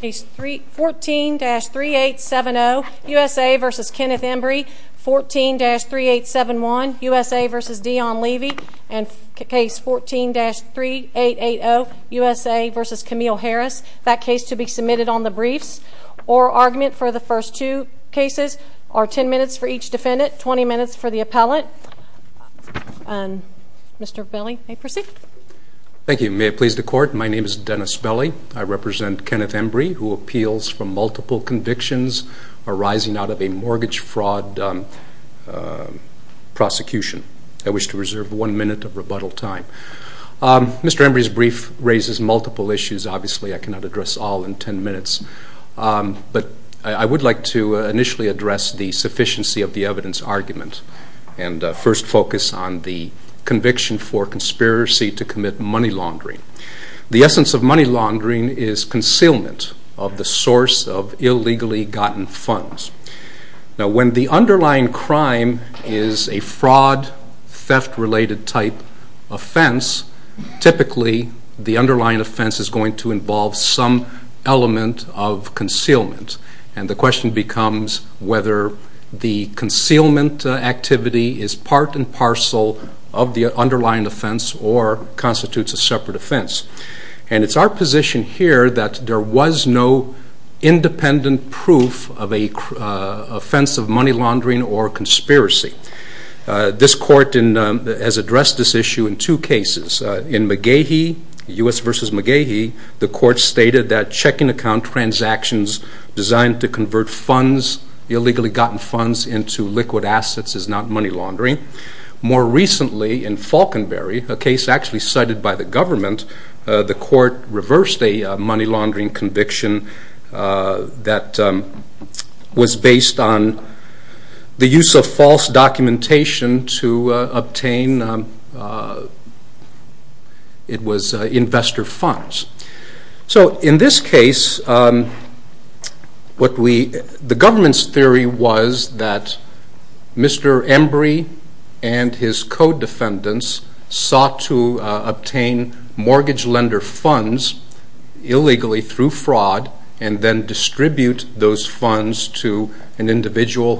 Case 14-3870 USA v. Kenneth Embry Case 14-3871 USA v. Deon Levy Case 14-3880 USA v. Camille Harris That case to be submitted on the briefs or argument for the first two cases are 10 minutes for each defendant, 20 minutes for the appellant. Mr. Belli, you may proceed. Thank you. May it please the Court, my name is Dennis Belli. I represent Kenneth Embry who appeals from multiple convictions arising out of a mortgage fraud prosecution. I wish to reserve one minute of rebuttal time. Mr. Embry's brief raises multiple issues. Obviously, I cannot address all in 10 minutes. But I would like to initially address the sufficiency of the evidence argument and first focus on the conviction for conspiracy to commit money laundering. The essence of money laundering is concealment of the source of illegally gotten funds. Now, when the underlying crime is a fraud, theft-related type offense, typically the underlying offense is going to involve some element of concealment activity, is part and parcel of the underlying offense or constitutes a separate offense. And it's our position here that there was no independent proof of an offense of money laundering or conspiracy. This Court has addressed this issue in two cases. In McGehee, U.S. v. McGehee, the Court stated that checking account transactions designed to convert funds, illegally gotten funds, into liquid assets is not money laundering. More recently, in Falkenbury, a case actually cited by the government, the Court reversed a money laundering conviction that was based on the use of false documentation to obtain investor funds. So, in this case, the government's theory was that Mr. Embry and his co-defendants sought to obtain mortgage lender funds illegally through fraud and then distribute those funds to an illegal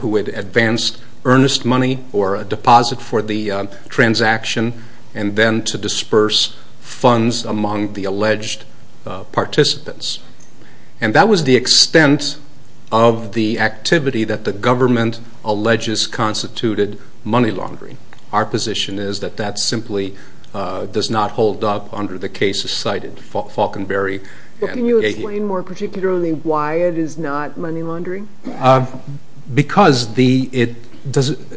transaction and then to disperse funds among the alleged participants. And that was the extent of the activity that the government alleges constituted money laundering. Our position is that that simply does not hold up under the cases cited, Falkenbury and McGehee. Well, can you explain more particularly why it is not money laundering? Because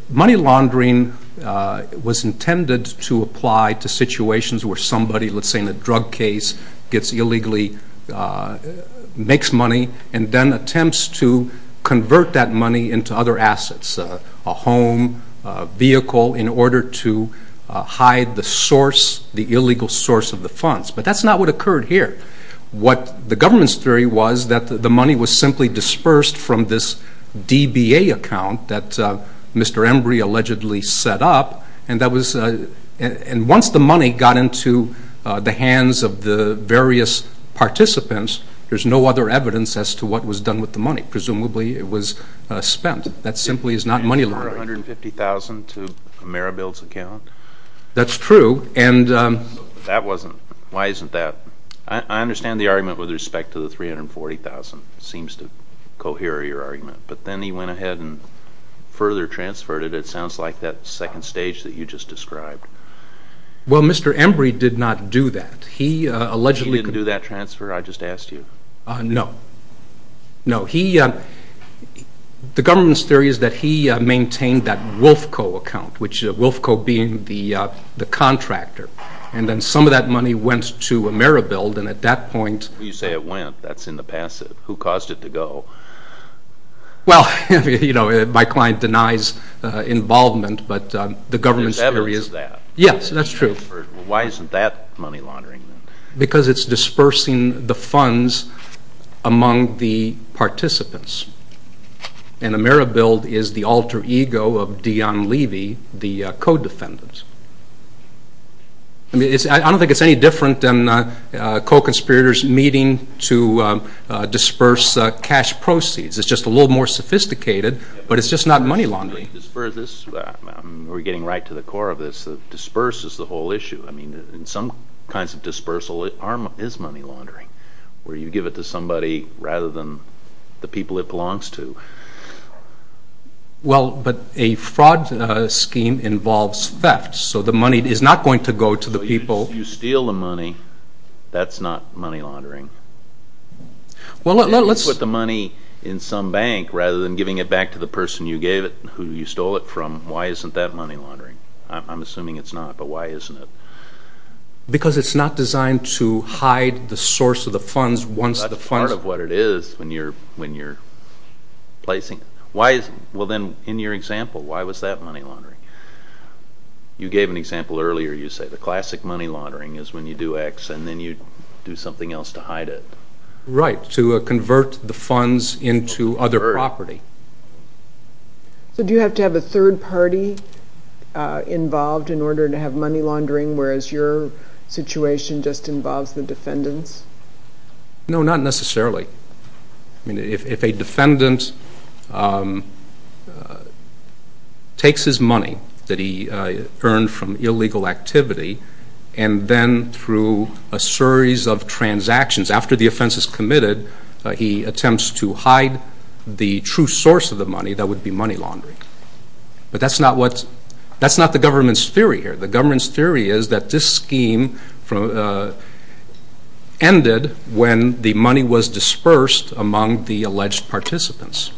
money laundering was intended to apply to situations where somebody, let's say in a drug case, illegally makes money and then attempts to convert that money into other assets, a home, a vehicle, in order to hide the source, the illegal source of the funds. But that's not what occurred here. What the government's theory was that the money was simply dispersed from this DBA account that Mr. Embry allegedly set up and once the money got into the hands of the various participants, there's no other evidence as to what was done with the money. Presumably it was spent. That simply is not money laundering. You're adding $450,000 to Marabil's account? That's true. Why isn't that? I understand the argument with respect to the $340,000. It seems to cohere with your argument. But then he went ahead and further transferred it. It sounds like that second stage that you just described. Well, Mr. Embry did not do that. He allegedly... He didn't do that transfer? I just asked you. No. The government's theory is that he maintained that Wolfco account, which Wolfco being the contractor. And then some of that money went to Marabil and at that point... You say it went. That's in the passive. Who caused it to go? Well, my client denies involvement, but the government's theory is... There's evidence of that. Yes, that's true. Why isn't that money laundering? Because it's dispersing the funds among the participants. And Marabil is the alter ego of Dion Levy, the co-defendant. I don't think it's any different than co-conspirators meeting to disperse cash proceeds. It's just a little more sophisticated, but it's just not money laundering. We're getting right to the core of this. Disperse is the whole issue. I mean, in some kinds of dispersal, it is money laundering, where you give it to somebody rather than the people it belongs to. Well, but a fraud scheme involves theft, so the money is not going to go to the people... So you steal the money. That's not money laundering. Well, let's... If you put the money in some bank rather than giving it back to the person you gave it, who you stole it from, why isn't that money laundering? I'm assuming it's not, but why isn't it? Because it's not designed to hide the source of the funds once the funds... That's part of what it is when you're placing... Well, then, in your example, why was that money laundering? You gave an example earlier. You say the classic money laundering is when you do X and then you do something else to hide it. Right, to convert the funds into other property. So do you have to have a third party involved in order to have money laundering, whereas your situation just involves the defendants? No, not necessarily. I mean, if a defendant takes his money that he earned from illegal activity, and then through a series of transactions, after the offense is committed, he attempts to hide the true source of the money, that would be money laundering. But that's not the government's theory here. The government's theory is that this scheme ended when the money was dispersed among the alleged participants.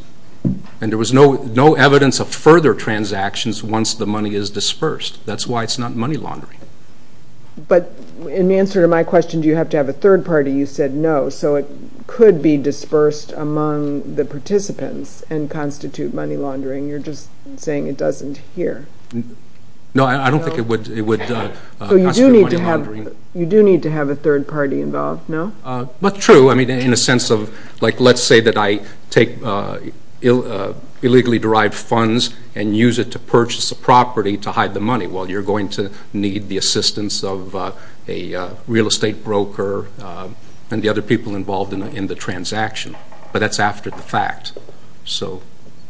And there was no evidence of further transactions once the money is dispersed. That's why it's not money laundering. But in answer to my question, do you have to have a third party, you said no. So it could be dispersed among the participants and constitute money laundering. You're just saying it doesn't here. No, I don't think it would constitute money laundering. You do need to have a third party involved, no? But true, in a sense of, let's say that I take illegally derived funds and use it to purchase a property to hide the money. Well, you're going to need the assistance of a real estate broker and the other people involved in the transaction. But that's after the fact. So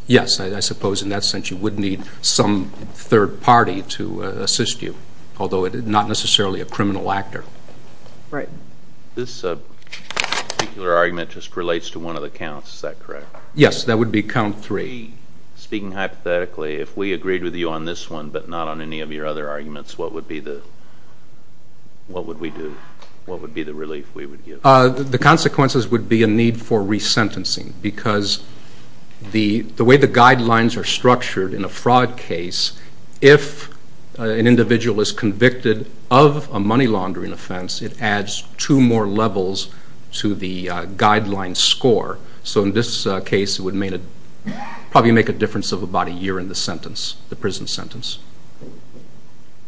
yes, I suppose in that sense, you would need some third party to assist you, although not necessarily a criminal actor. Right. This particular argument just relates to one of the counts, is that correct? Yes, that would be count three. Speaking hypothetically, if we agreed with you on this one, but not on any of your other arguments, what would be the relief we would get? The consequences would be a need for resentencing, because the way the guidelines are structured in a fraud case, if an individual is convicted of a money laundering offense, it adds two more levels to the guideline score. So in this case, it would probably make a difference of about a year in the sentence, the prison sentence.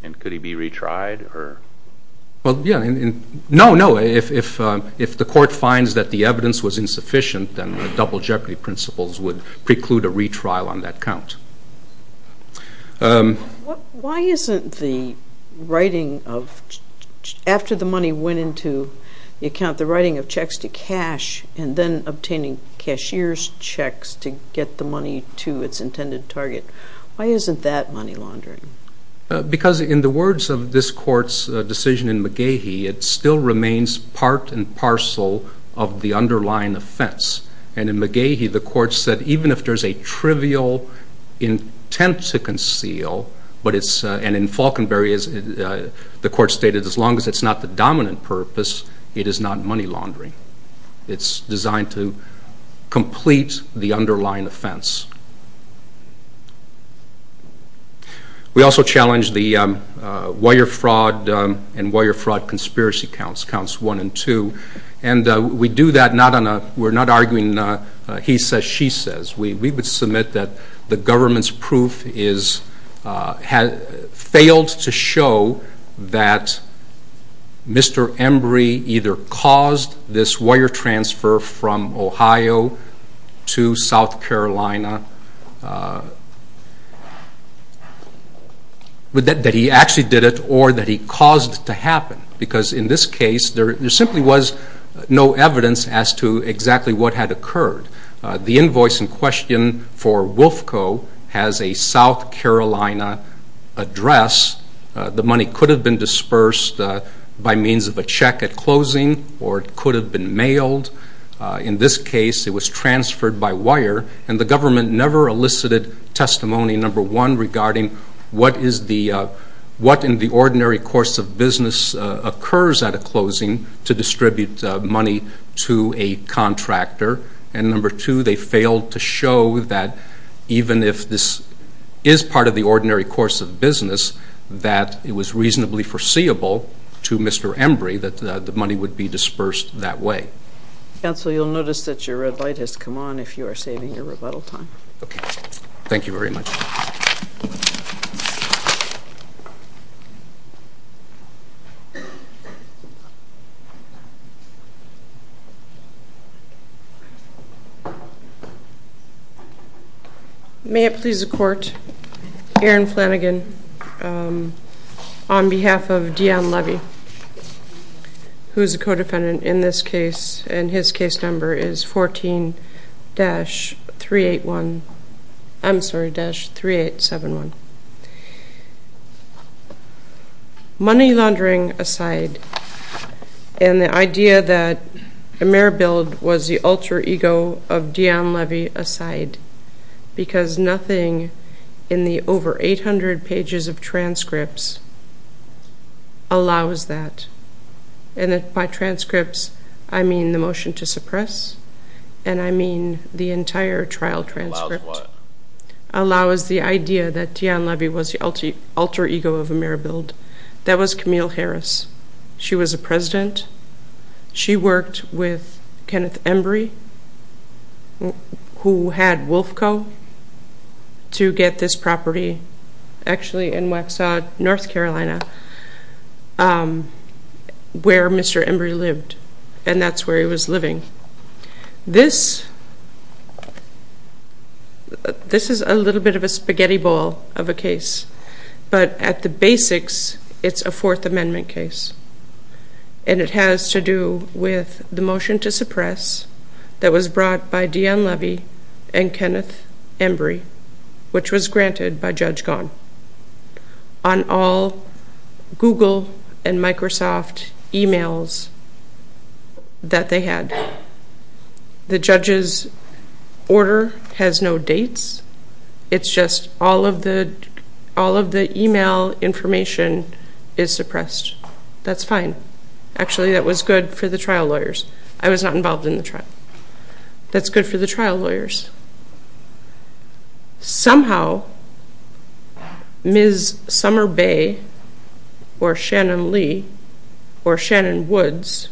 And could he be retried? Well, yes. No, no. If the court finds that the evidence was insufficient, then the double jeopardy principles would preclude a retrial on that count. Why isn't the writing of, after the money went into the account, the writing of checks to cash and then obtaining cashier's checks to get the money to its intended target, why isn't that money laundering? Because in the words of this court's decision in McGehee, it still remains part and parcel of the underlying offense. And in McGehee, the court said even if there's a trivial intent to conceal, and in Falkenberry, the court stated as long as it's not the dominant purpose, it is not money laundering. It's designed to complete the underlying offense. We also challenge the wire fraud and wire fraud conspiracy counts, counts one and two. And we do that, we're not arguing he says, she says. We would submit that the government's proof failed to show that Mr. Embry either caused this wire transfer from Ohio to South Carolina, that he actually did it, or that he caused it to happen. Because in this case, there simply was no evidence as to exactly what had occurred. The invoice in question for Wolfco has a South Carolina address. The money could have been dispersed by means of a check at closing, or it could have been mailed. In this case, it was transferred by wire, and the government never elicited testimony, number one, regarding what in the ordinary course of business occurs at a closing to distribute money to a contractor, and number two, they failed to show that even if this is part of the ordinary course of business, that it was reasonably foreseeable to Mr. Embry that the money would be dispersed that way. Counsel, you'll notice that your red light has come on if you are saving your rebuttal time. Thank you very much. May it please the court, Erin Flanagan, on behalf of Dionne Levy, who is a co-defendant in this case, and his case number is 14-381, I'm sorry, 3871. Money laundering aside, and the idea that Ameribild was the alter ego of Dionne Levy aside, because nothing in the over 800 pages of transcripts allows that. And by transcripts, I mean the motion to suppress, and I mean the entire trial transcript allows the idea that Dionne Levy was the alter ego of Ameribild. That was Camille Harris. She was a president. She worked with Kenneth Embry, who had Wolf Co. to get this property actually in Waxhaw, North Carolina, where this is a little bit of a spaghetti bowl of a case. But at the basics, it's a Fourth Amendment case. And it has to do with the motion to suppress that was brought by Dionne Levy and Kenneth Embry, which was granted by Judge Gahn on all Google and Microsoft emails that they had. The judge's order has no dates. It's just all of the email information is suppressed. That's fine. Actually, that was good for the trial lawyers. I was not involved in the trial. That's good for the trial lawyers. Somehow, Ms. Summer Bay, or Shannon Lee, or Shannon Woods,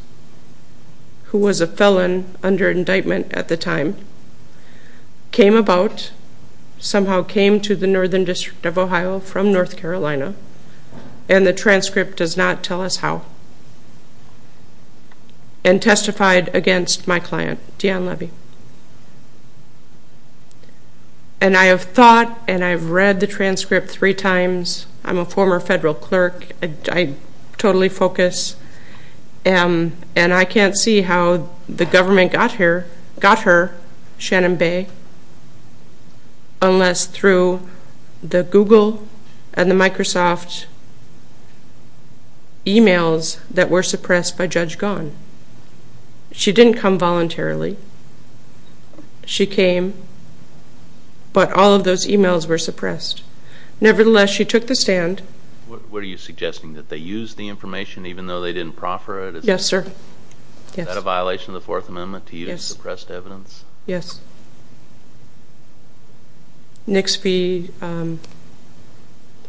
who was a felon under indictment at the time, came about, somehow came to the Northern District of Ohio from North Carolina, and the transcript does not tell us how, and testified against my client, Dionne Levy. And I have thought, and I've read the transcript three times. I'm a former federal clerk. I totally focus, and I can't see how the government got her, Shannon Bay, unless through the Google and the Microsoft emails that were suppressed by Judge Gahn. She didn't come voluntarily. She came, but all of those emails were suppressed. Nevertheless, she took the stand. What are you suggesting? That they used the information even though they didn't proffer it? Yes, sir. Is that a violation of the Fourth Amendment to use suppressed evidence? Yes. Nixby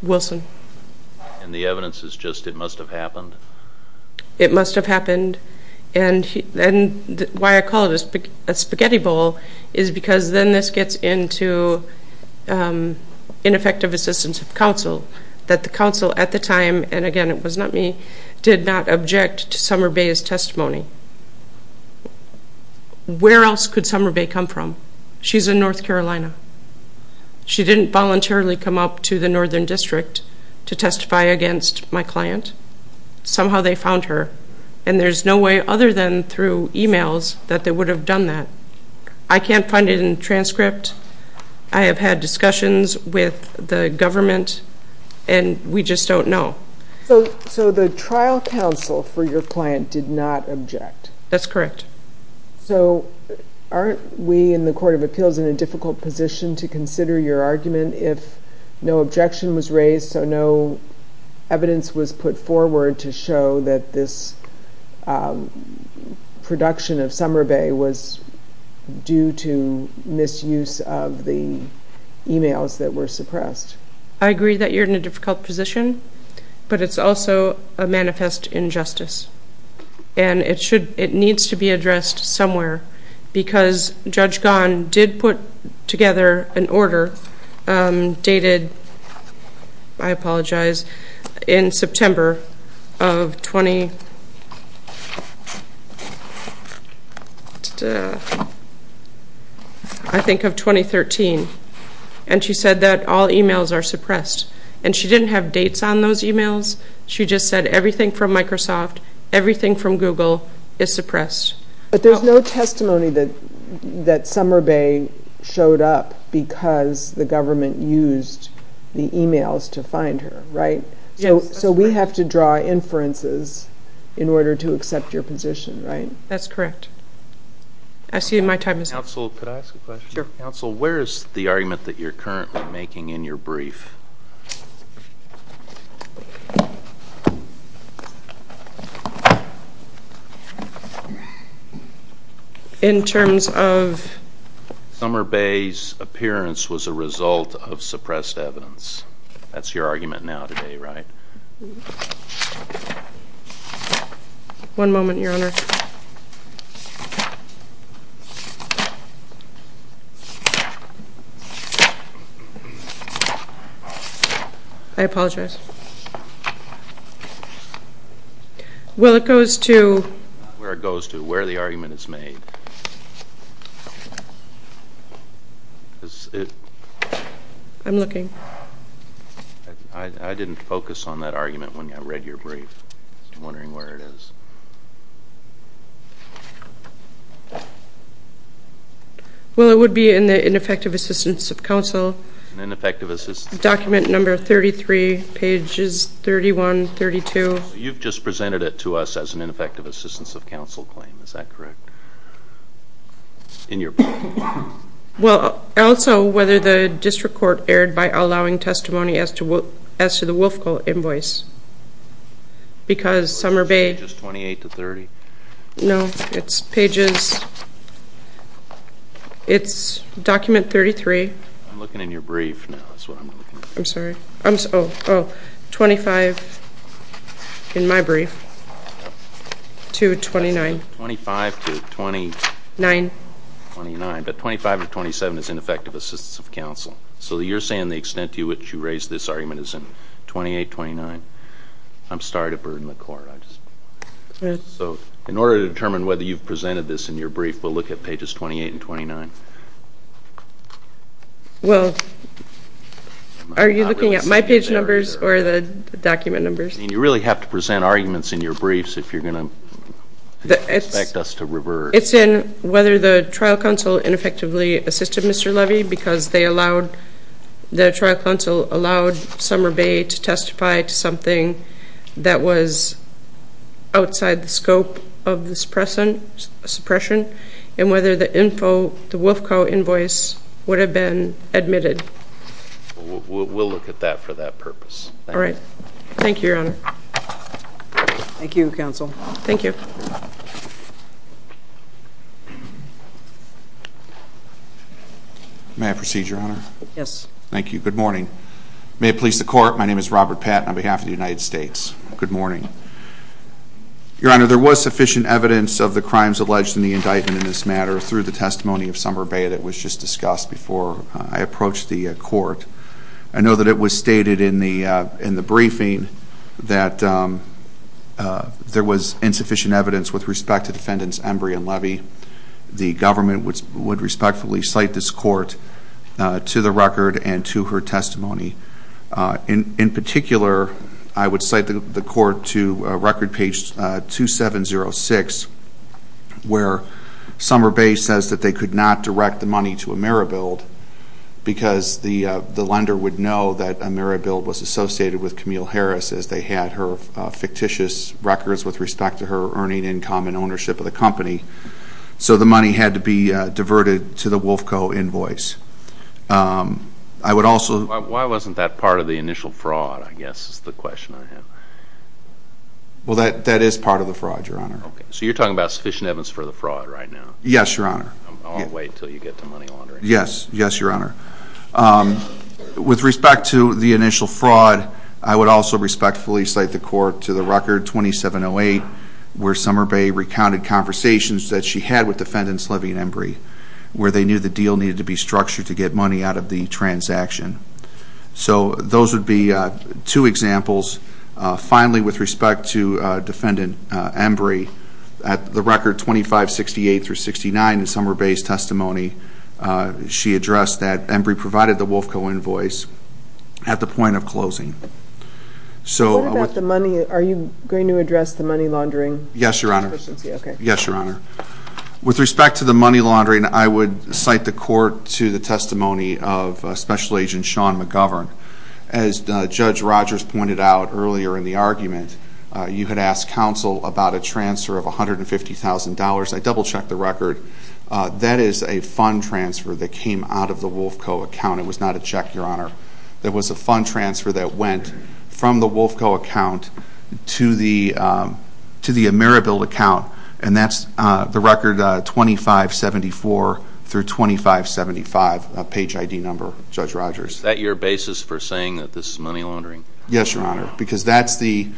Wilson. And the evidence is just, it must have happened? It must have happened, and why I call it a spaghetti bowl is because then this gets into ineffective assistance of counsel, that the counsel at the time, and again, it was not me, did not object to where did Summer Bay come from? She's in North Carolina. She didn't voluntarily come up to the Northern District to testify against my client. Somehow they found her, and there's no way other than through emails that they would have done that. I can't find it in the transcript. I have had discussions with the government, and we just don't know. So the trial counsel for your client did not object? That's correct. So aren't we in the Court of Appeals in a difficult position to consider your argument if no objection was raised, so no evidence was put forward to show that this production of Summer Bay was due to misuse of the emails that were suppressed? I agree that you're in a difficult position, but it's also a manifest injustice, and it needs to be addressed somewhere, because Judge Gan did put together an order dated I apologize, in September of And she didn't have dates on those emails. She just said everything from Microsoft, everything from Google is suppressed. But there's no testimony that Summer Bay showed up because the government used the emails to find her, right? So we have to draw inferences in order to accept your position, right? That's correct. Counsel, where is the argument that you're currently making in your brief? In terms of Summer Bay's appearance was a result of suppressed evidence. That's your argument now today, right? One moment, Your Honor. I apologize. Well, it goes to Where the argument is made. I'm looking. I didn't focus on that argument when I read your brief. I'm wondering where it is. Well, it would be in the Ineffective Assistance of Counsel document number 33, pages 31-32. You've just presented it to us as an Ineffective Assistance of Counsel claim, is that correct? In your brief. Well, also whether the district court erred by allowing testimony as to the Wolfcolt invoice. Because Summer Bay No, it's pages It's document 33. I'm looking in your brief now is what I'm looking for. Oh, 25 in my brief to 29. 25 to 29, but 25 to 27 is Ineffective Assistance of Counsel. So you're saying the extent to which you raised this argument is in 28-29. I'm sorry to burden the court. So in order to determine whether you've presented this in your brief, we'll look at pages 28 and 29. Well, Are you looking at my page numbers or the document numbers? I mean, you really have to present arguments in your briefs if you're going to expect us to revert. It's in whether the trial counsel ineffectively assisted Mr. Levy because they allowed The trial counsel allowed Summer Bay to testify to something that was outside the scope of the suppression and whether the info, the Wolfcolt invoice would have been admitted. We'll look at that for that purpose. All right. Thank you, Your Honor. Thank you, Counsel. May I proceed, Your Honor? Yes. Thank you. Good morning. May it please the court, my name is Robert Patton on behalf of the United States. Good morning. Your Honor, there was sufficient evidence of the crimes alleged in the indictment in this matter through the testimony of Summer Bay that was just discussed before I approached the court. I know that it was stated in the briefing that there was insufficient evidence with respect to defendants Embry and Levy. The government would respectfully cite this court to the record and to her testimony. In particular, I would cite the court to record page 2706 where Summer Bay says that they could not direct the money to AmeriBuild because the lender would know that AmeriBuild was associated with Camille Harris as they had her fictitious records with respect to her earning income and ownership of the company. So the money had to be diverted to the Wolfcolt invoice. Why wasn't that part of the initial fraud, I guess is the question I have. Well, that is part of the fraud, Your Honor. So you're talking about sufficient evidence for the fraud right now? Yes, Your Honor. I'll wait until you get to money laundering. Yes, Your Honor. With respect to the initial fraud, I would also respectfully cite the court to the record 2708 where Summer Bay recounted conversations that she had with defendants Levy and Embry where they knew the deal needed to be structured to get money out of the Finally, with respect to defendant Embry, at the record 2568-69 in Summer Bay's testimony, she addressed that Embry provided the Wolfcolt invoice at the point of closing. Are you going to address the money laundering? Yes, Your Honor. With respect to the money laundering, I would cite the court to the testimony of Special Agent Sean McGovern. As Judge Rogers pointed out earlier in the argument, you had asked counsel about a transfer of $150,000. I double-checked the record. That is a fund transfer that came out of the Wolfcolt account. It was not a check, Your Honor. It was a fund transfer that went from the Wolfcolt account to the Ameribil account, and that's the record 2574-2575 page ID number, Judge Rogers. Is that your basis for saying that this is money laundering? Yes, Your Honor. The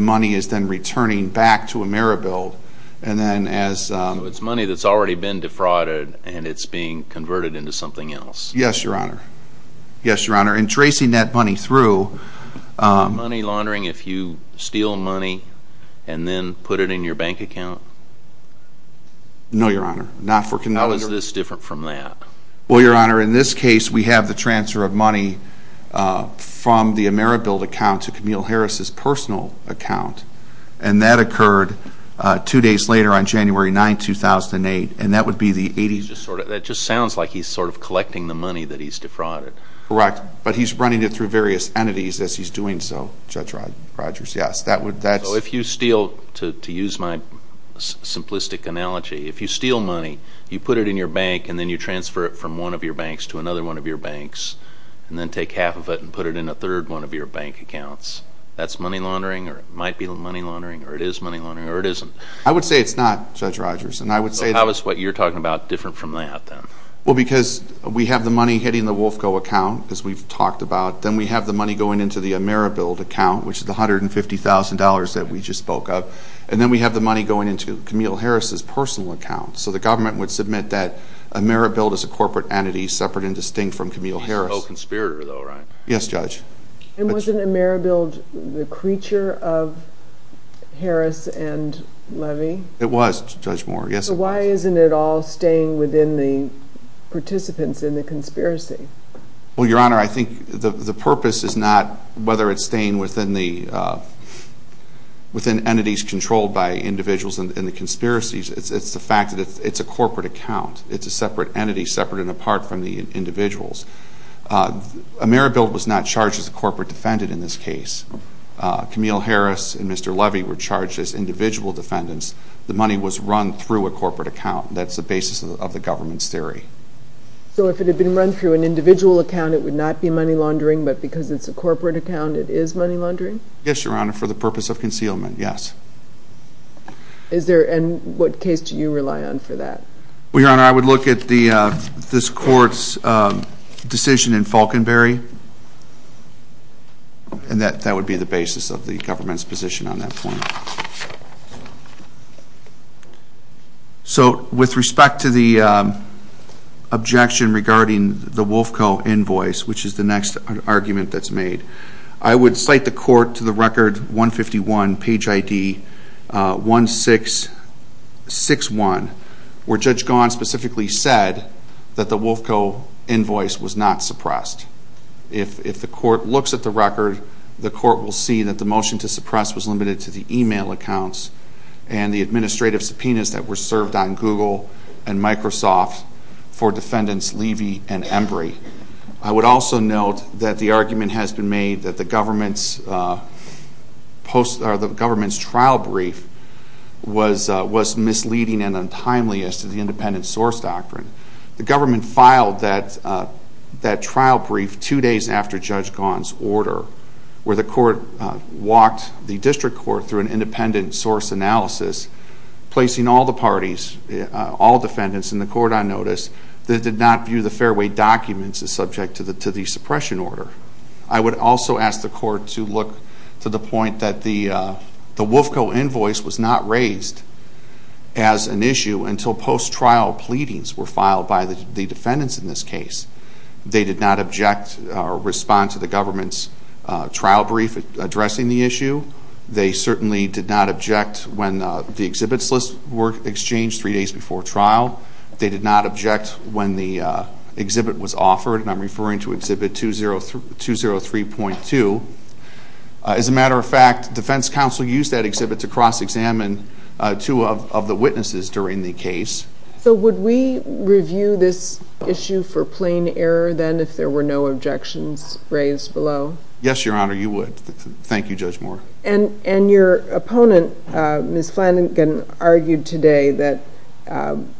money is then returning back to Ameribil. It's money that's already been defrauded and it's being converted into something else. Yes, Your Honor. In tracing that money through... Did you then put it in your bank account? No, Your Honor. How is this different from that? Well, Your Honor, in this case, we have the transfer of money from the Ameribil account to Camille Harris' personal account. That occurred two days later on January 9, 2008. That just sounds like he's collecting the money that he's defrauded. Correct. But he's running it through various entities as he's doing so, Judge Rogers. So if you steal, to use my simplistic analogy, if you steal money, you put it in your bank and then you transfer it from one of your banks to another one of your banks, and then take half of it and put it in a third one of your bank accounts, that's money laundering? Or it might be money laundering? Or it is money laundering? Or it isn't? I would say it's not, Judge Rogers. So how is what you're talking about different from that, then? Well, because we have the money hitting the WolfCo account, as we've talked about. Then we have the money going into the Ameribil account, which is the $150,000 that we just spoke of. And then we have the money going into Camille Harris' personal account. So the government would submit that Ameribil is a corporate entity separate and distinct from Camille Harris. She's a pro-conspirator, though, right? Yes, Judge. And wasn't Ameribil the creature of Harris and Levy? It was, Judge Moore. Yes, it was. So why isn't it all staying within the participants in the conspiracy? Well, Your Honor, I think the purpose is not whether it's staying within entities controlled by individuals in the conspiracies. It's the fact that it's a corporate account. It's a separate entity, separate and apart from the individuals. Ameribil was not charged as a corporate defendant in this case. Camille Harris and Mr. Levy were charged as individual defendants. The money was run through a corporate account. That's the basis of the government's theory. So if it had been run through an individual account, it would not be money laundering, but because it's a corporate account, it is money laundering? Yes, Your Honor, for the purpose of concealment, yes. And what case do you rely on for that? Well, Your Honor, I would look at this court's decision in Falconberry, and that would be the basis of the government's position on that point. So with respect to the objection regarding the WolfCo invoice, which is the next argument that's made, I would cite the court to the record 151, page ID 1661, where Judge Gahan specifically said that the WolfCo invoice was not suppressed. If the court looks at the record, the court will see that the motion to suppress was limited to the e-mail accounts and the administrative subpoenas that were served on Google and Microsoft for defendants Levy and Embry. I would also note that the argument has been made that the government's trial brief was misleading and untimely as to the independent source doctrine. The government filed that trial brief two days after Judge Gahan's order, where the court walked the district court through an independent source analysis, placing all the parties, all defendants in the court on notice, that did not view the fairway documents as subject to the suppression order. I would also ask the court to look to the point that the WolfCo invoice was not raised as an issue until post-trial pleadings were filed by the defendants in this case. They did not object or respond to the government's trial brief addressing the issue. They certainly did not object when the exhibits lists were exchanged three days before trial. They did not object when the exhibit was offered, and I'm referring to exhibit 203.2. As a matter of fact, defense counsel used that exhibit to cross-examine two of the witnesses during the case. So would we review this issue for plain error then if there were no objections raised below? Yes, Your Honor, you would. Thank you, Judge Moore. And your opponent, Ms. Flanagan, argued today that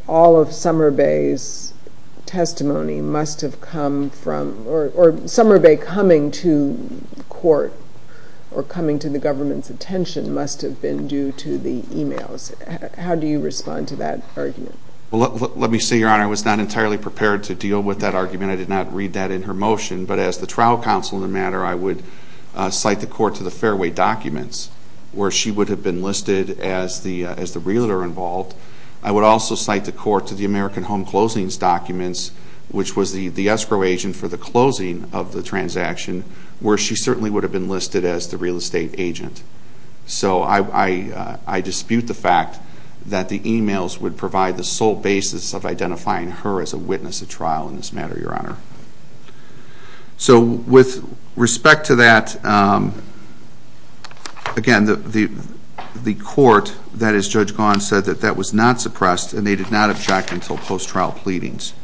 all of Summer Bay's testimony must have come from, or Summer Bay coming to court or coming to the government's attention must have been due to the emails. How do you respond to that argument? Let me say, Your Honor, I was not entirely prepared to deal with that argument. I did not read that in her motion, but as the trial counsel in the matter, I would cite the court to the fairway documents where she would have been listed as the realtor involved. I would also cite the court to the American Home Closings documents, which was the escrow agent for the closing of the transaction, where she certainly would have been listed as the real estate agent. So I dispute the fact that the emails would provide the sole basis of identifying her as a witness at trial in this matter, Your Honor. So with respect to that, again, the court, that is Judge Gahan, said that that was not suppressed and they did not object until post-trial pleadings.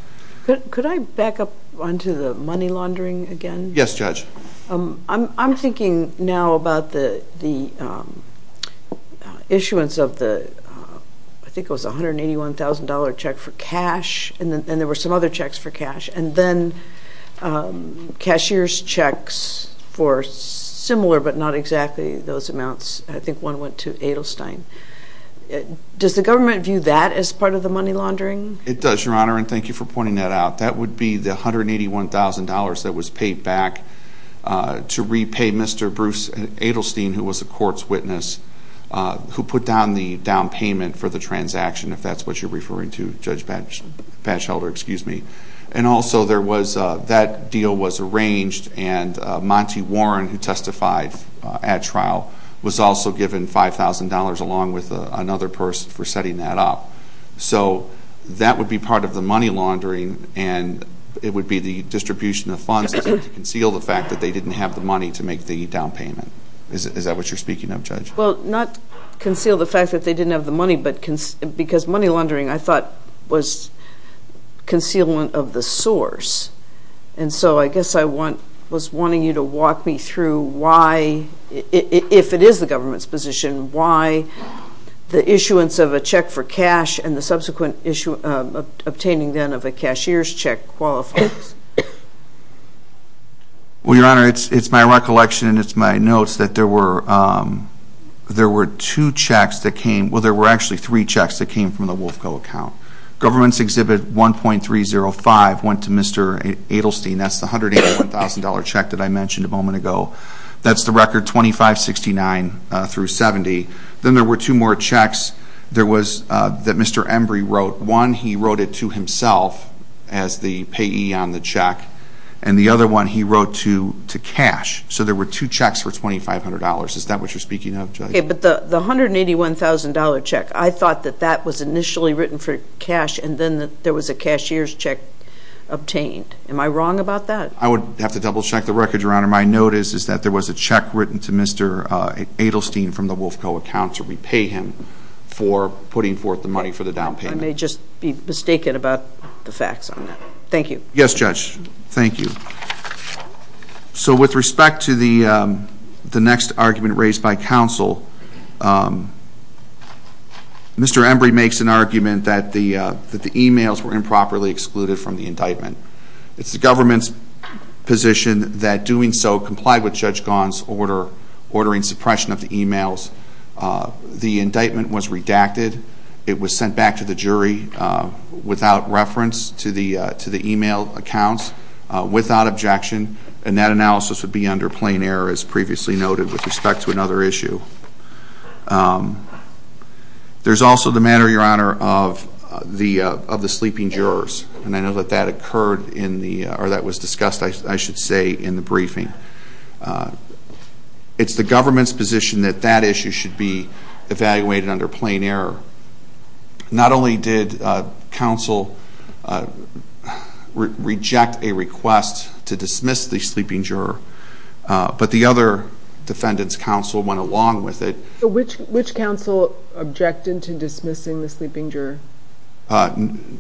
Could I back up onto the money laundering again? Yes, Judge. I'm thinking now about the issuance of the, I think it was $181,000 check for cash, and there were some other checks for cash, and then cashier's checks for similar but not exactly those amounts. I think one went to Adelstein. Does the government view that as part of the money laundering? It does, Your Honor, and thank you for pointing that out. That would be the $181,000 that was paid back to repay Mr. Bruce Adelstein, who was a court's witness, who put down the down payment for the transaction, if that's what you're referring to, Judge Patchelder. And also, that deal was arranged and Monty Warren, who testified at trial, was also given $5,000 along with another person for setting that up. So that would be part of the money laundering, and it would be the distribution of funds to conceal the fact that they didn't have the money to make the down payment. Is that what you're speaking of, Judge? Well, not conceal the fact that they didn't have the money, but because money laundering, I thought, was concealment of the source. And so I guess I was wanting you to walk me through why, if it is the government's position, why the issuance of a check for cash and the subsequent obtaining then of a cashier's check qualifies. Well, Your Honor, it's my recollection and it's my notes that there were two checks that came, well, there were actually three checks that came from the Wolfco account. Government's Exhibit 1.305 went to Mr. Adelstein. That's the $181,000 check that I mentioned a moment ago. That's the record $2,569 through $2,070. Then there were two more checks that Mr. Embry wrote. One he wrote it to himself as the payee on the check, and the other one he wrote to cash. So there were two checks for $2,500. Is that what you're speaking of, Judge? Okay, but the $181,000 check, I thought that that was initially written for cash and then there was a cashier's check obtained. Am I wrong about that? I would have to double-check the record, Your Honor. My note is that there was a check written to Mr. Adelstein from the Wolfco account to repay him for putting forth the money for the down payment. I may just be mistaken about the facts on that. Thank you. Yes, Judge. Thank you. So with respect to the next argument raised by counsel, Mr. Embry makes an argument that the e-mails were improperly excluded from the indictment. It's the government's position that doing so complied with Judge Gaughan's order, ordering suppression of the e-mails. The indictment was redacted. It was sent back to the jury without reference to the e-mail accounts, without objection, and that analysis would be under plain error as previously noted with respect to another issue. There's also the matter, Your Honor, of the sleeping jurors, and I know that that occurred in the or that was discussed, I should say, in the briefing. It's the government's position that that issue should be evaluated under plain error. Not only did counsel reject a request to dismiss the sleeping juror, but the other defendants' counsel went along with it. Which counsel objected to dismissing the sleeping juror?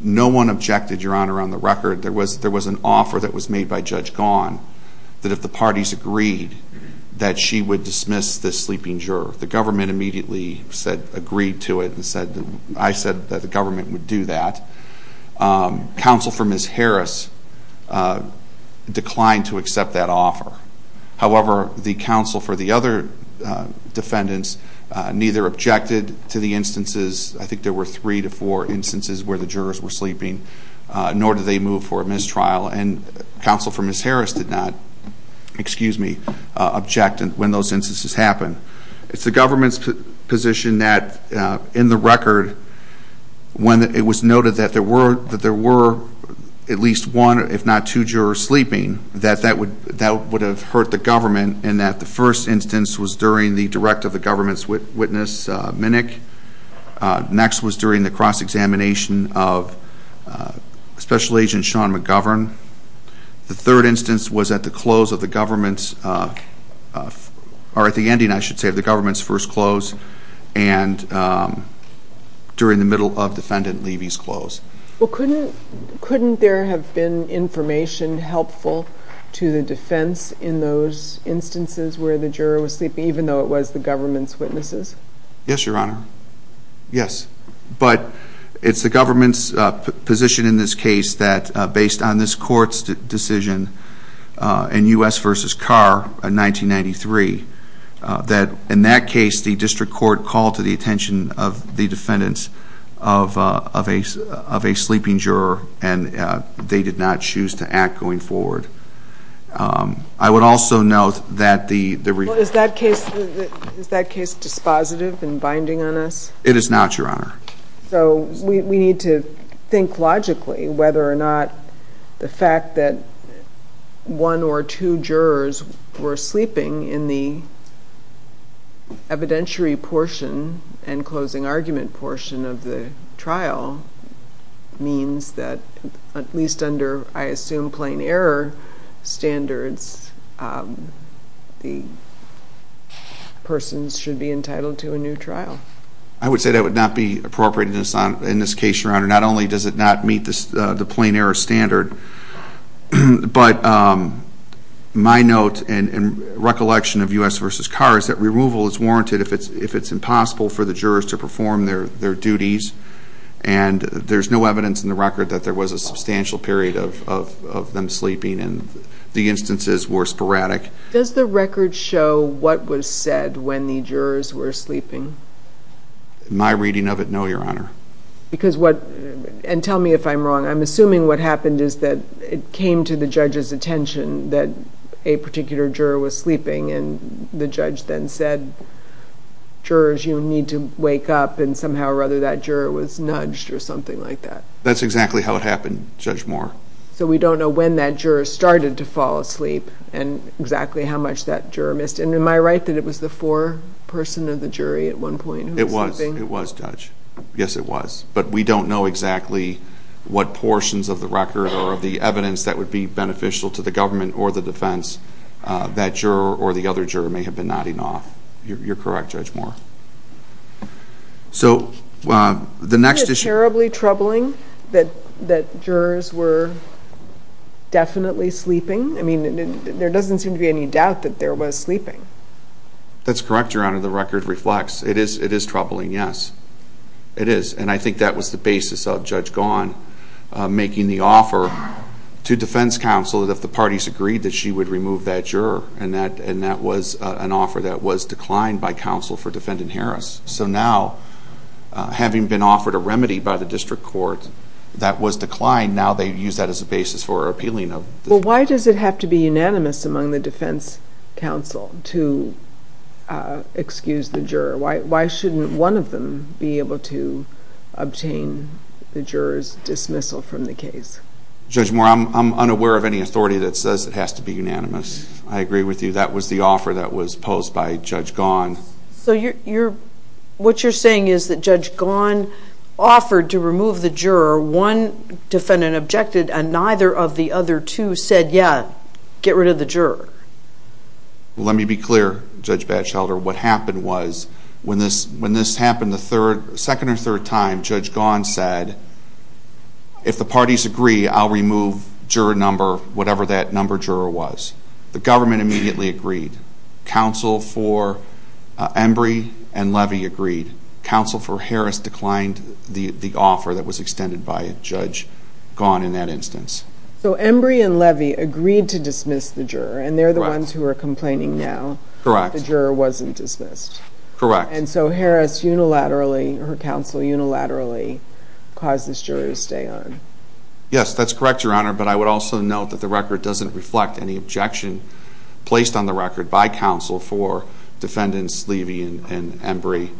No one objected, Your Honor, on the record. There was an offer that was made by Judge Gaughan that if the parties agreed that she would dismiss this sleeping juror. The government immediately agreed to it and I said that the government would do that. Counsel for Ms. Harris declined to accept that offer. However, the counsel for the other defendants neither objected to the instances, I think there were three to four instances where the jurors were sleeping, nor did they move for a mistrial. And counsel for Ms. Harris did not object when those instances happened. It's the government's position that in the record, when it was noted that there were at least one, if not two, jurors sleeping, that that would have hurt the government, and that the first instance was during the direct of the government's witness, Minnick. Next was during the cross-examination of Special Agent Sean McGovern. The third instance was at the closing of the government's, or at the ending, I should say, of the government's first close, and during the middle of Defendant Levy's close. Well, couldn't there have been information helpful to the defense in those instances where the juror was sleeping, even though it was the government's witnesses? Yes, Your Honor. Yes. But it's the government's position in this case that based on this court's decision in U.S. v. Carr in 1993, that in that case the district court called to the attention of the defendants of a sleeping juror, and they did not choose to act going forward. I would also note that the... Well, is that case dispositive and binding on us? It is not, Your Honor. So we need to think logically whether or not the fact that one or two jurors were sleeping in the evidentiary portion and closing argument portion of the trial means that at least under, I assume, plain error standards, the person should be entitled to a new trial. I would say that would not be appropriate in this case, Your Honor. Not only does it not meet the plain error standard, but my note and recollection of U.S. v. Carr is that removal is warranted if it's impossible for the jurors to perform their duties, and there's no evidence in the record that there was a substantial period of them sleeping, and the instances were sporadic. Does the record show what was said when the jurors were sleeping? My reading of it, no, Your Honor. And tell me if I'm wrong. I'm assuming what happened is that it came to the judge's attention that a particular juror was sleeping, and the judge then said, jurors, you need to wake up, and somehow or other that juror was nudged or something like that. That's exactly how it happened, Judge Moore. So we don't know when that juror started to fall asleep and exactly how much that juror missed. And am I right that it was the foreperson of the jury at one point who was sleeping? It was, Judge. Yes, it was. But we don't know exactly what portions of the record or of the evidence that would be beneficial to the government or the defense that juror or the other juror may have been nodding off. You're correct, Judge Moore. So the next issue... Isn't it terribly troubling that jurors were definitely sleeping? I mean, there doesn't seem to be any doubt that there was sleeping. That's correct, Your Honor. The record reflects it is troubling, yes. It is, and I think that was the basis of Judge Gaughan making the offer to defense counsel that if the parties agreed that she would remove that juror, and that was an offer that was declined by counsel for Defendant Harris. So now, having been offered a remedy by the district court that was declined, now they use that as a basis for appealing. Well, why does it have to be unanimous among the defense counsel to excuse the juror? Why shouldn't one of them be able to obtain the juror's dismissal from the case? Judge Moore, I'm unaware of any authority that says it has to be unanimous. I agree with you. That was the offer that was posed by Judge Gaughan. So what you're saying is that Judge Gaughan offered to remove the juror. One defendant objected, and neither of the other two said, yeah, get rid of the juror. Well, let me be clear, Judge Batchelder. What happened was when this happened the second or third time, Judge Gaughan said, if the parties agree, I'll remove juror number, whatever that number juror was. The government immediately agreed. Counsel for Embry and Levy agreed. Counsel for Harris declined the offer that was extended by Judge Gaughan in that instance. So Embry and Levy agreed to dismiss the juror, and they're the ones who are complaining now that the juror wasn't dismissed. Correct. And so Harris unilaterally, her counsel unilaterally, caused this juror to stay on. Yes, that's correct, Your Honor, but I would also note that the record doesn't reflect any objection placed on the record by counsel for defendants Levy and Embry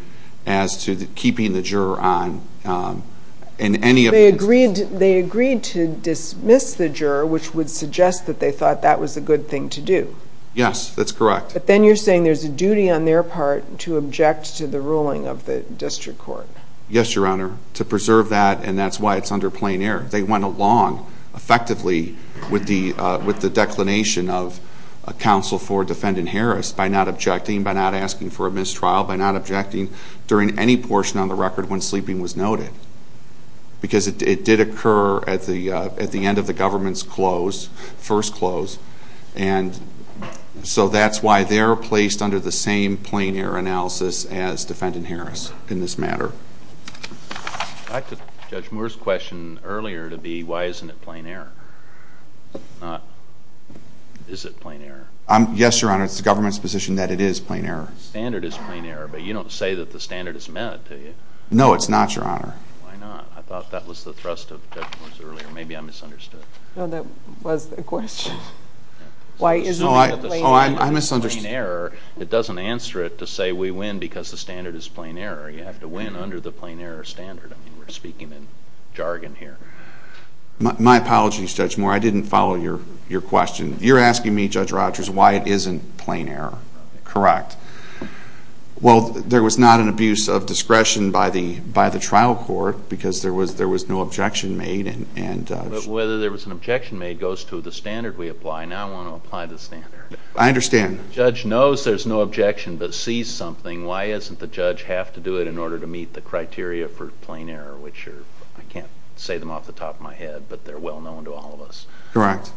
as to keeping the juror on in any of the instances. They agreed to dismiss the juror, which would suggest that they thought that was a good thing to do. Yes, that's correct. But then you're saying there's a duty on their part to object to the ruling of the district court. Yes, Your Honor, to preserve that, and that's why it's under plain error. They went along effectively with the declination of counsel for defendant Harris by not objecting, by not asking for a mistrial, by not objecting during any portion on the record when sleeping was noted because it did occur at the end of the government's close, first close, and so that's why they're placed under the same plain error analysis as defendant Harris in this matter. I took Judge Moore's question earlier to be why isn't it plain error, not is it plain error. Yes, Your Honor, it's the government's position that it is plain error. The standard is plain error, but you don't say that the standard is met, do you? No, it's not, Your Honor. Why not? I thought that was the thrust of Judge Moore's earlier. Maybe I misunderstood. No, that was the question. Why isn't it plain error? Oh, I misunderstood. It's plain error. It doesn't answer it to say we win because the standard is plain error. You have to win under the plain error standard. I mean, we're speaking in jargon here. My apologies, Judge Moore. I didn't follow your question. You're asking me, Judge Rogers, why it isn't plain error. Correct. Well, there was not an abuse of discretion by the trial court because there was no objection made. But whether there was an objection made goes to the standard we apply. Now I want to apply the standard. I understand. The judge knows there's no objection, but sees something. Why doesn't the judge have to do it in order to meet the criteria for plain error, which I can't say them off the top of my head, but they're well known to all of us. Correct.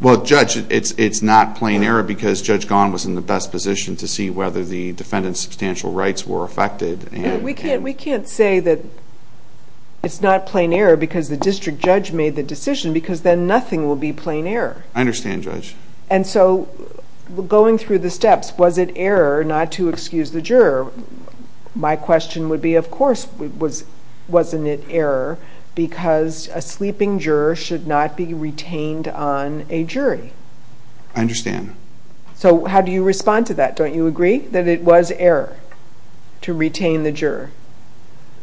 Well, Judge, it's not plain error because Judge Gahan was in the best position to see whether the defendant's substantial rights were affected. We can't say that it's not plain error because the district judge made the decision because then nothing will be plain error. I understand, Judge. And so going through the steps, was it error not to excuse the juror? My question would be, of course, wasn't it error because a sleeping juror should not be retained on a jury? I understand. So how do you respond to that? Don't you agree that it was error to retain the juror?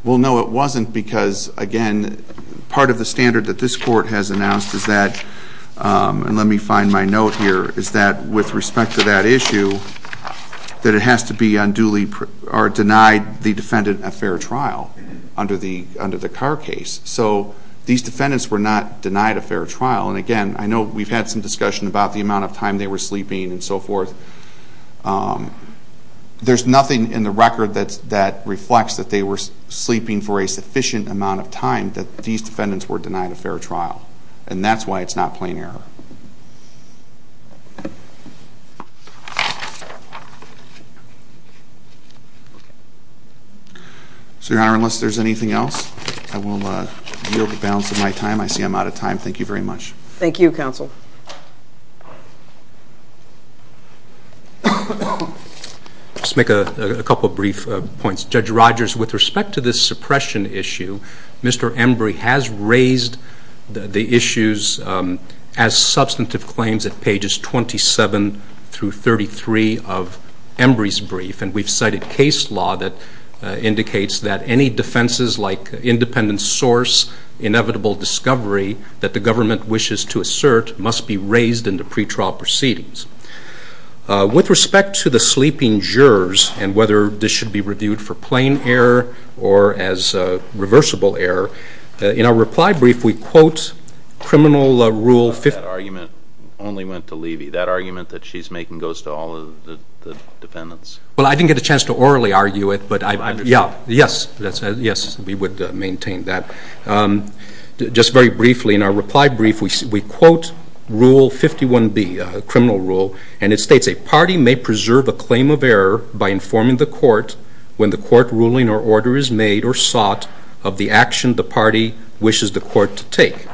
Well, no, it wasn't because, again, part of the standard that this court has announced is that, and let me find my note here, is that with respect to that issue, that it has to be unduly or denied the defendant a fair trial under the Carr case. So these defendants were not denied a fair trial. And, again, I know we've had some discussion about the amount of time they were sleeping and so forth. There's nothing in the record that reflects that they were sleeping for a sufficient amount of time that these defendants were denied a fair trial. And that's why it's not plain error. So, Your Honor, unless there's anything else, I will yield the balance of my time. I see I'm out of time. Thank you very much. Thank you, counsel. Let's make a couple of brief points. Judge Rogers, with respect to this suppression issue, Mr. Embry has raised the issues as substantive claims at pages 27 through 33 of Embry's brief. And we've cited case law that indicates that any defenses like independent source, inevitable discovery, that the government wishes to assert must be raised in the pretrial proceedings. With respect to the sleeping jurors and whether this should be reviewed for plain error or as reversible error, in our reply brief we quote criminal rule 50- That argument only went to Levy. That argument that she's making goes to all of the defendants. Well, I didn't get a chance to orally argue it, but I understand. Yes. Yes, we would maintain that. Just very briefly, in our reply brief we quote rule 51-B, criminal rule, and it states a party may preserve a claim of error by informing the court when the court ruling or order is made or sought of the action the party wishes the court to take.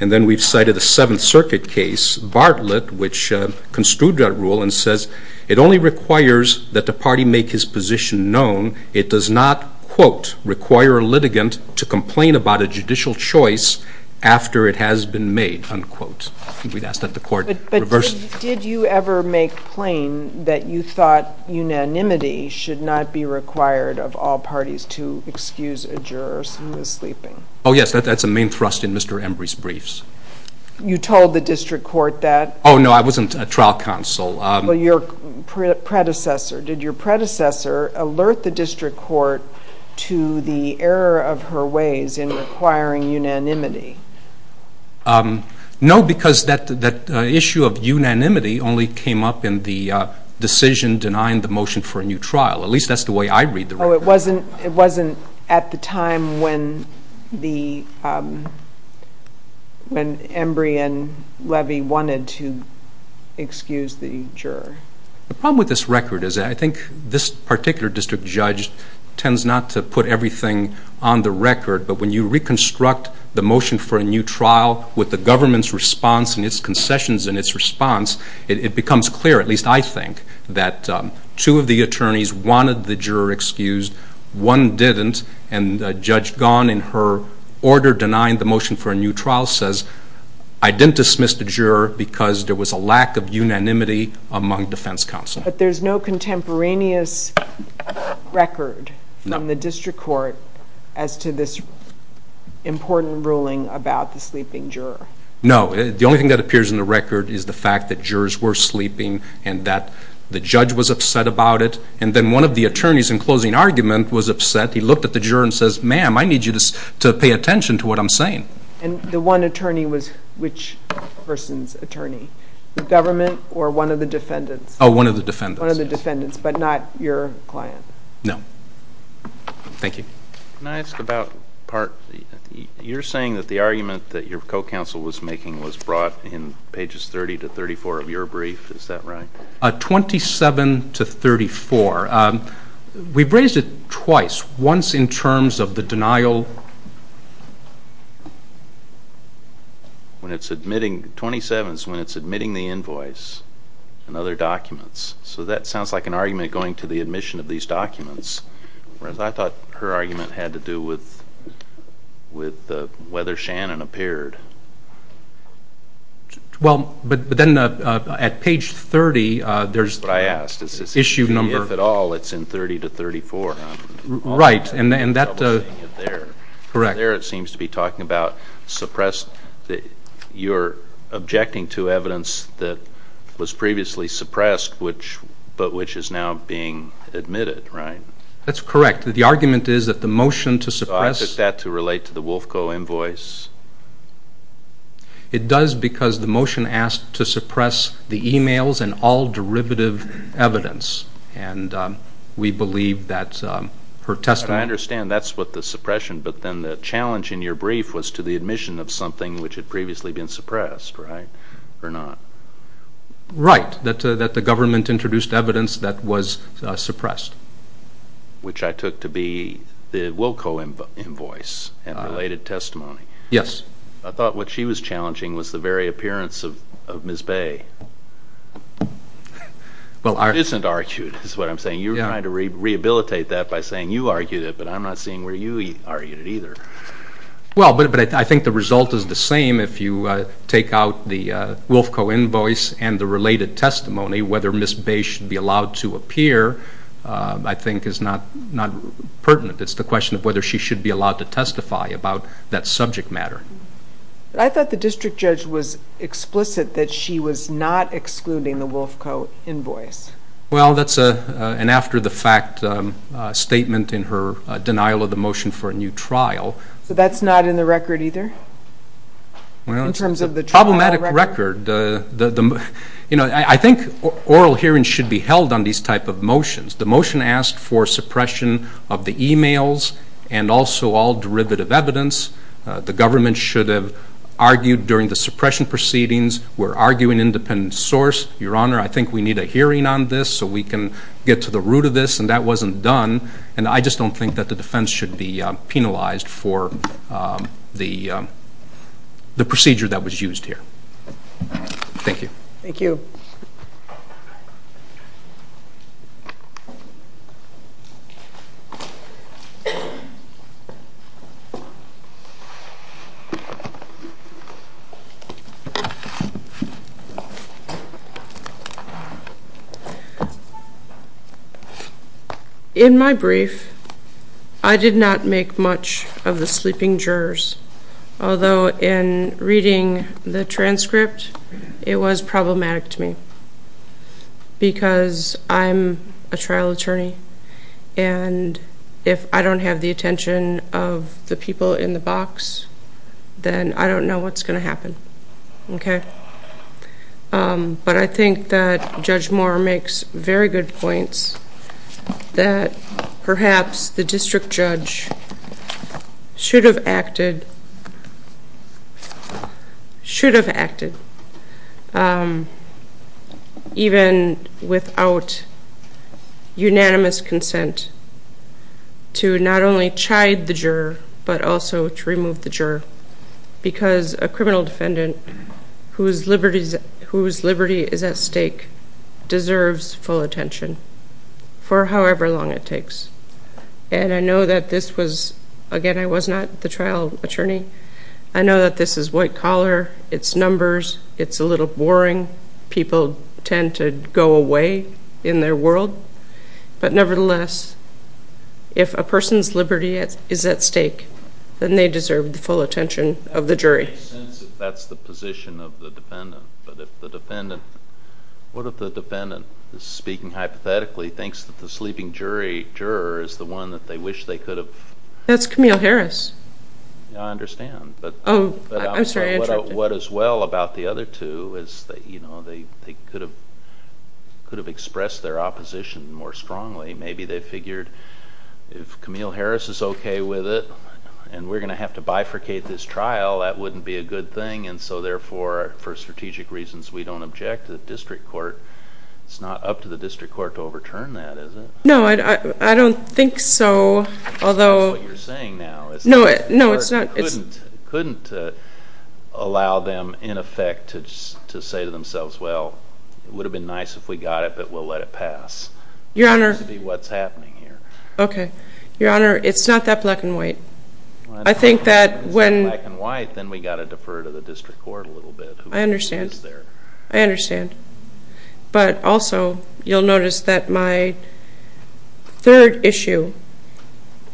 And then we've cited a Seventh Circuit case, Bartlett, which construed that rule and says it only requires that the party make his position known. It does not, quote, require a litigant to complain about a judicial choice after it has been made, unquote. We'd ask that the court reverse- But did you ever make plain that you thought unanimity should not be required of all parties to excuse a juror who is sleeping? Oh, yes, that's a main thrust in Mr. Embry's briefs. You told the district court that? Oh, no, I wasn't a trial counsel. Well, your predecessor. Did your predecessor alert the district court to the error of her ways in requiring unanimity? No, because that issue of unanimity only came up in the decision denying the motion for a new trial. At least that's the way I read the record. No, it wasn't at the time when Embry and Levy wanted to excuse the juror. The problem with this record is I think this particular district judge tends not to put everything on the record, but when you reconstruct the motion for a new trial with the government's response and its concessions and its response, it becomes clear, at least I think, that two of the attorneys wanted the juror excused, one didn't, and Judge Gahn in her order denying the motion for a new trial says, I didn't dismiss the juror because there was a lack of unanimity among defense counsel. But there's no contemporaneous record from the district court as to this important ruling about the sleeping juror. No, the only thing that appears in the record is the fact that jurors were sleeping and that the judge was upset about it, and then one of the attorneys in closing argument was upset. He looked at the juror and says, ma'am, I need you to pay attention to what I'm saying. And the one attorney was which person's attorney? The government or one of the defendants? Oh, one of the defendants. One of the defendants, but not your client? No. Thank you. Can I ask about part? You're saying that the argument that your co-counsel was making was brought in pages 30 to 34 of your brief. Is that right? 27 to 34. We've raised it twice, once in terms of the denial. When it's admitting, 27 is when it's admitting the invoice and other documents. So that sounds like an argument going to the admission of these documents, whereas I thought her argument had to do with whether Shannon appeared. Well, but then at page 30, there's the issue number. That's what I asked. If at all, it's in 30 to 34. Right. Correct. There it seems to be talking about suppressed. You're objecting to evidence that was previously suppressed, but which is now being admitted, right? That's correct. The argument is that the motion to suppress. I took that to relate to the WolfCo invoice. It does because the motion asked to suppress the e-mails and all derivative evidence, and we believe that her testimony. I understand that's what the suppression, but then the challenge in your brief was to the admission of something which had previously been suppressed, right, or not? Right, that the government introduced evidence that was suppressed. Which I took to be the WolfCo invoice and related testimony. Yes. I thought what she was challenging was the very appearance of Ms. Bay. It isn't argued, is what I'm saying. You're trying to rehabilitate that by saying you argued it, but I'm not seeing where you argued it either. Well, but I think the result is the same if you take out the WolfCo invoice and the related testimony, whether Ms. Bay should be allowed to appear I think is not pertinent. It's the question of whether she should be allowed to testify about that subject matter. I thought the district judge was explicit that she was not excluding the WolfCo invoice. Well, that's an after-the-fact statement in her denial of the motion for a new trial. So that's not in the record either? Well, it's a problematic record. You know, I think oral hearings should be held on these type of motions. The motion asked for suppression of the e-mails and also all derivative evidence. The government should have argued during the suppression proceedings. We're arguing independent source. Your Honor, I think we need a hearing on this so we can get to the root of this, and that wasn't done. And I just don't think that the defense should be penalized for the procedure that was used here. Thank you. Thank you. In my brief, I did not make much of the sleeping jurors, although in reading the transcript, it was problematic to me because I'm a trial attorney, and if I don't have the attention of the people in the box, then I don't know what's going to happen. Okay. But I think that Judge Moore makes very good points that perhaps the district judge should have acted, even without unanimous consent, to not only chide the juror but also to remove the juror because a criminal defendant whose liberty is at stake deserves full attention for however long it takes. And I know that this was, again, I was not the trial attorney. I know that this is white collar. It's numbers. It's a little boring. People tend to go away in their world. But nevertheless, if a person's liberty is at stake, then they deserve the full attention of the jury. It makes sense if that's the position of the defendant, but what if the defendant, speaking hypothetically, thinks that the sleeping juror is the one that they wish they could have? That's Camille Harris. I understand. I'm sorry, I interrupted. What is well about the other two is that they could have expressed their opposition more strongly. Maybe they figured if Camille Harris is okay with it and we're going to have to bifurcate this trial, that wouldn't be a good thing, and so therefore, for strategic reasons, we don't object to the district court. It's not up to the district court to overturn that, is it? No, I don't think so, although no, it's not. I couldn't allow them, in effect, to say to themselves, well, it would have been nice if we got it, but we'll let it pass. Your Honor, it's not that black and white. If it's that black and white, then we've got to defer to the district court a little bit. I understand. I understand. But also, you'll notice that my third issue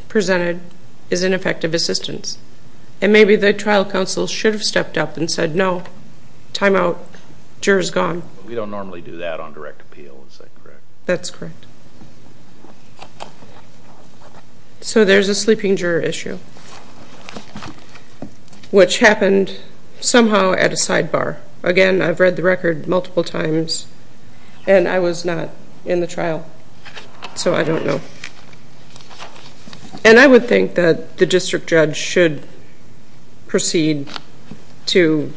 presented is ineffective assistance, and maybe the trial counsel should have stepped up and said, no, time out, juror's gone. We don't normally do that on direct appeal, is that correct? That's correct. So there's a sleeping juror issue, which happened somehow at a sidebar. Again, I've read the record multiple times, and I was not in the trial, so I don't know. And I would think that the district judge should proceed to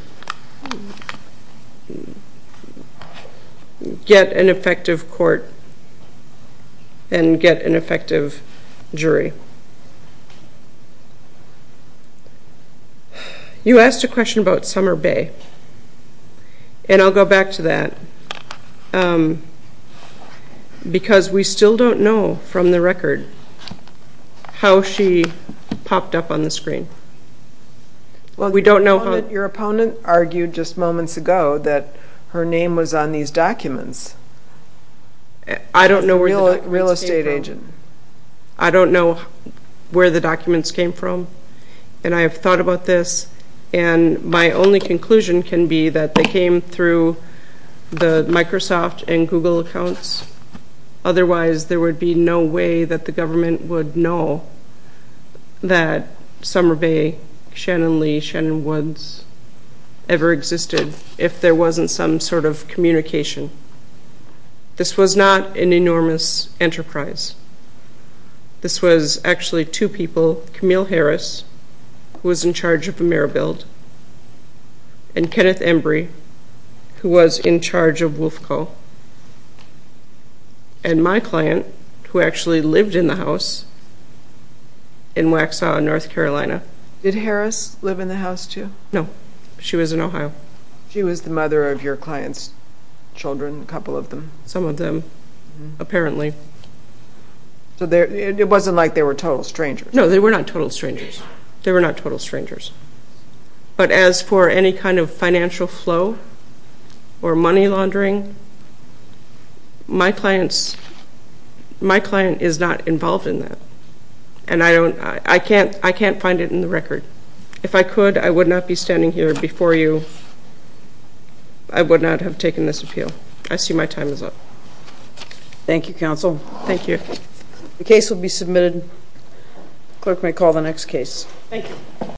get an effective court and get an effective jury. You asked a question about Summer Bay, and I'll go back to that, because we still don't know from the record how she popped up on the screen. Your opponent argued just moments ago that her name was on these documents. I don't know where the documents came from. Real estate agent. I don't know where the documents came from, and I have thought about this, and my only conclusion can be that they came through the Microsoft and Google accounts. Otherwise, there would be no way that the government would know that Summer Bay, Shannon Lee, Shannon Woods ever existed if there wasn't some sort of communication. This was not an enormous enterprise. This was actually two people, Camille Harris, who was in charge of AmeriBuild, and Kenneth Embry, who was in charge of WolfCo, and my client, who actually lived in the house in Waxhaw, North Carolina. Did Harris live in the house, too? No. She was in Ohio. She was the mother of your client's children, a couple of them. Some of them, apparently. It wasn't like they were total strangers. No, they were not total strangers. They were not total strangers. But as for any kind of financial flow or money laundering, my client is not involved in that, and I can't find it in the record. If I could, I would not be standing here before you. I would not have taken this appeal. I see my time is up. Thank you, counsel. Thank you. The case will be submitted. Clerk may call the next case.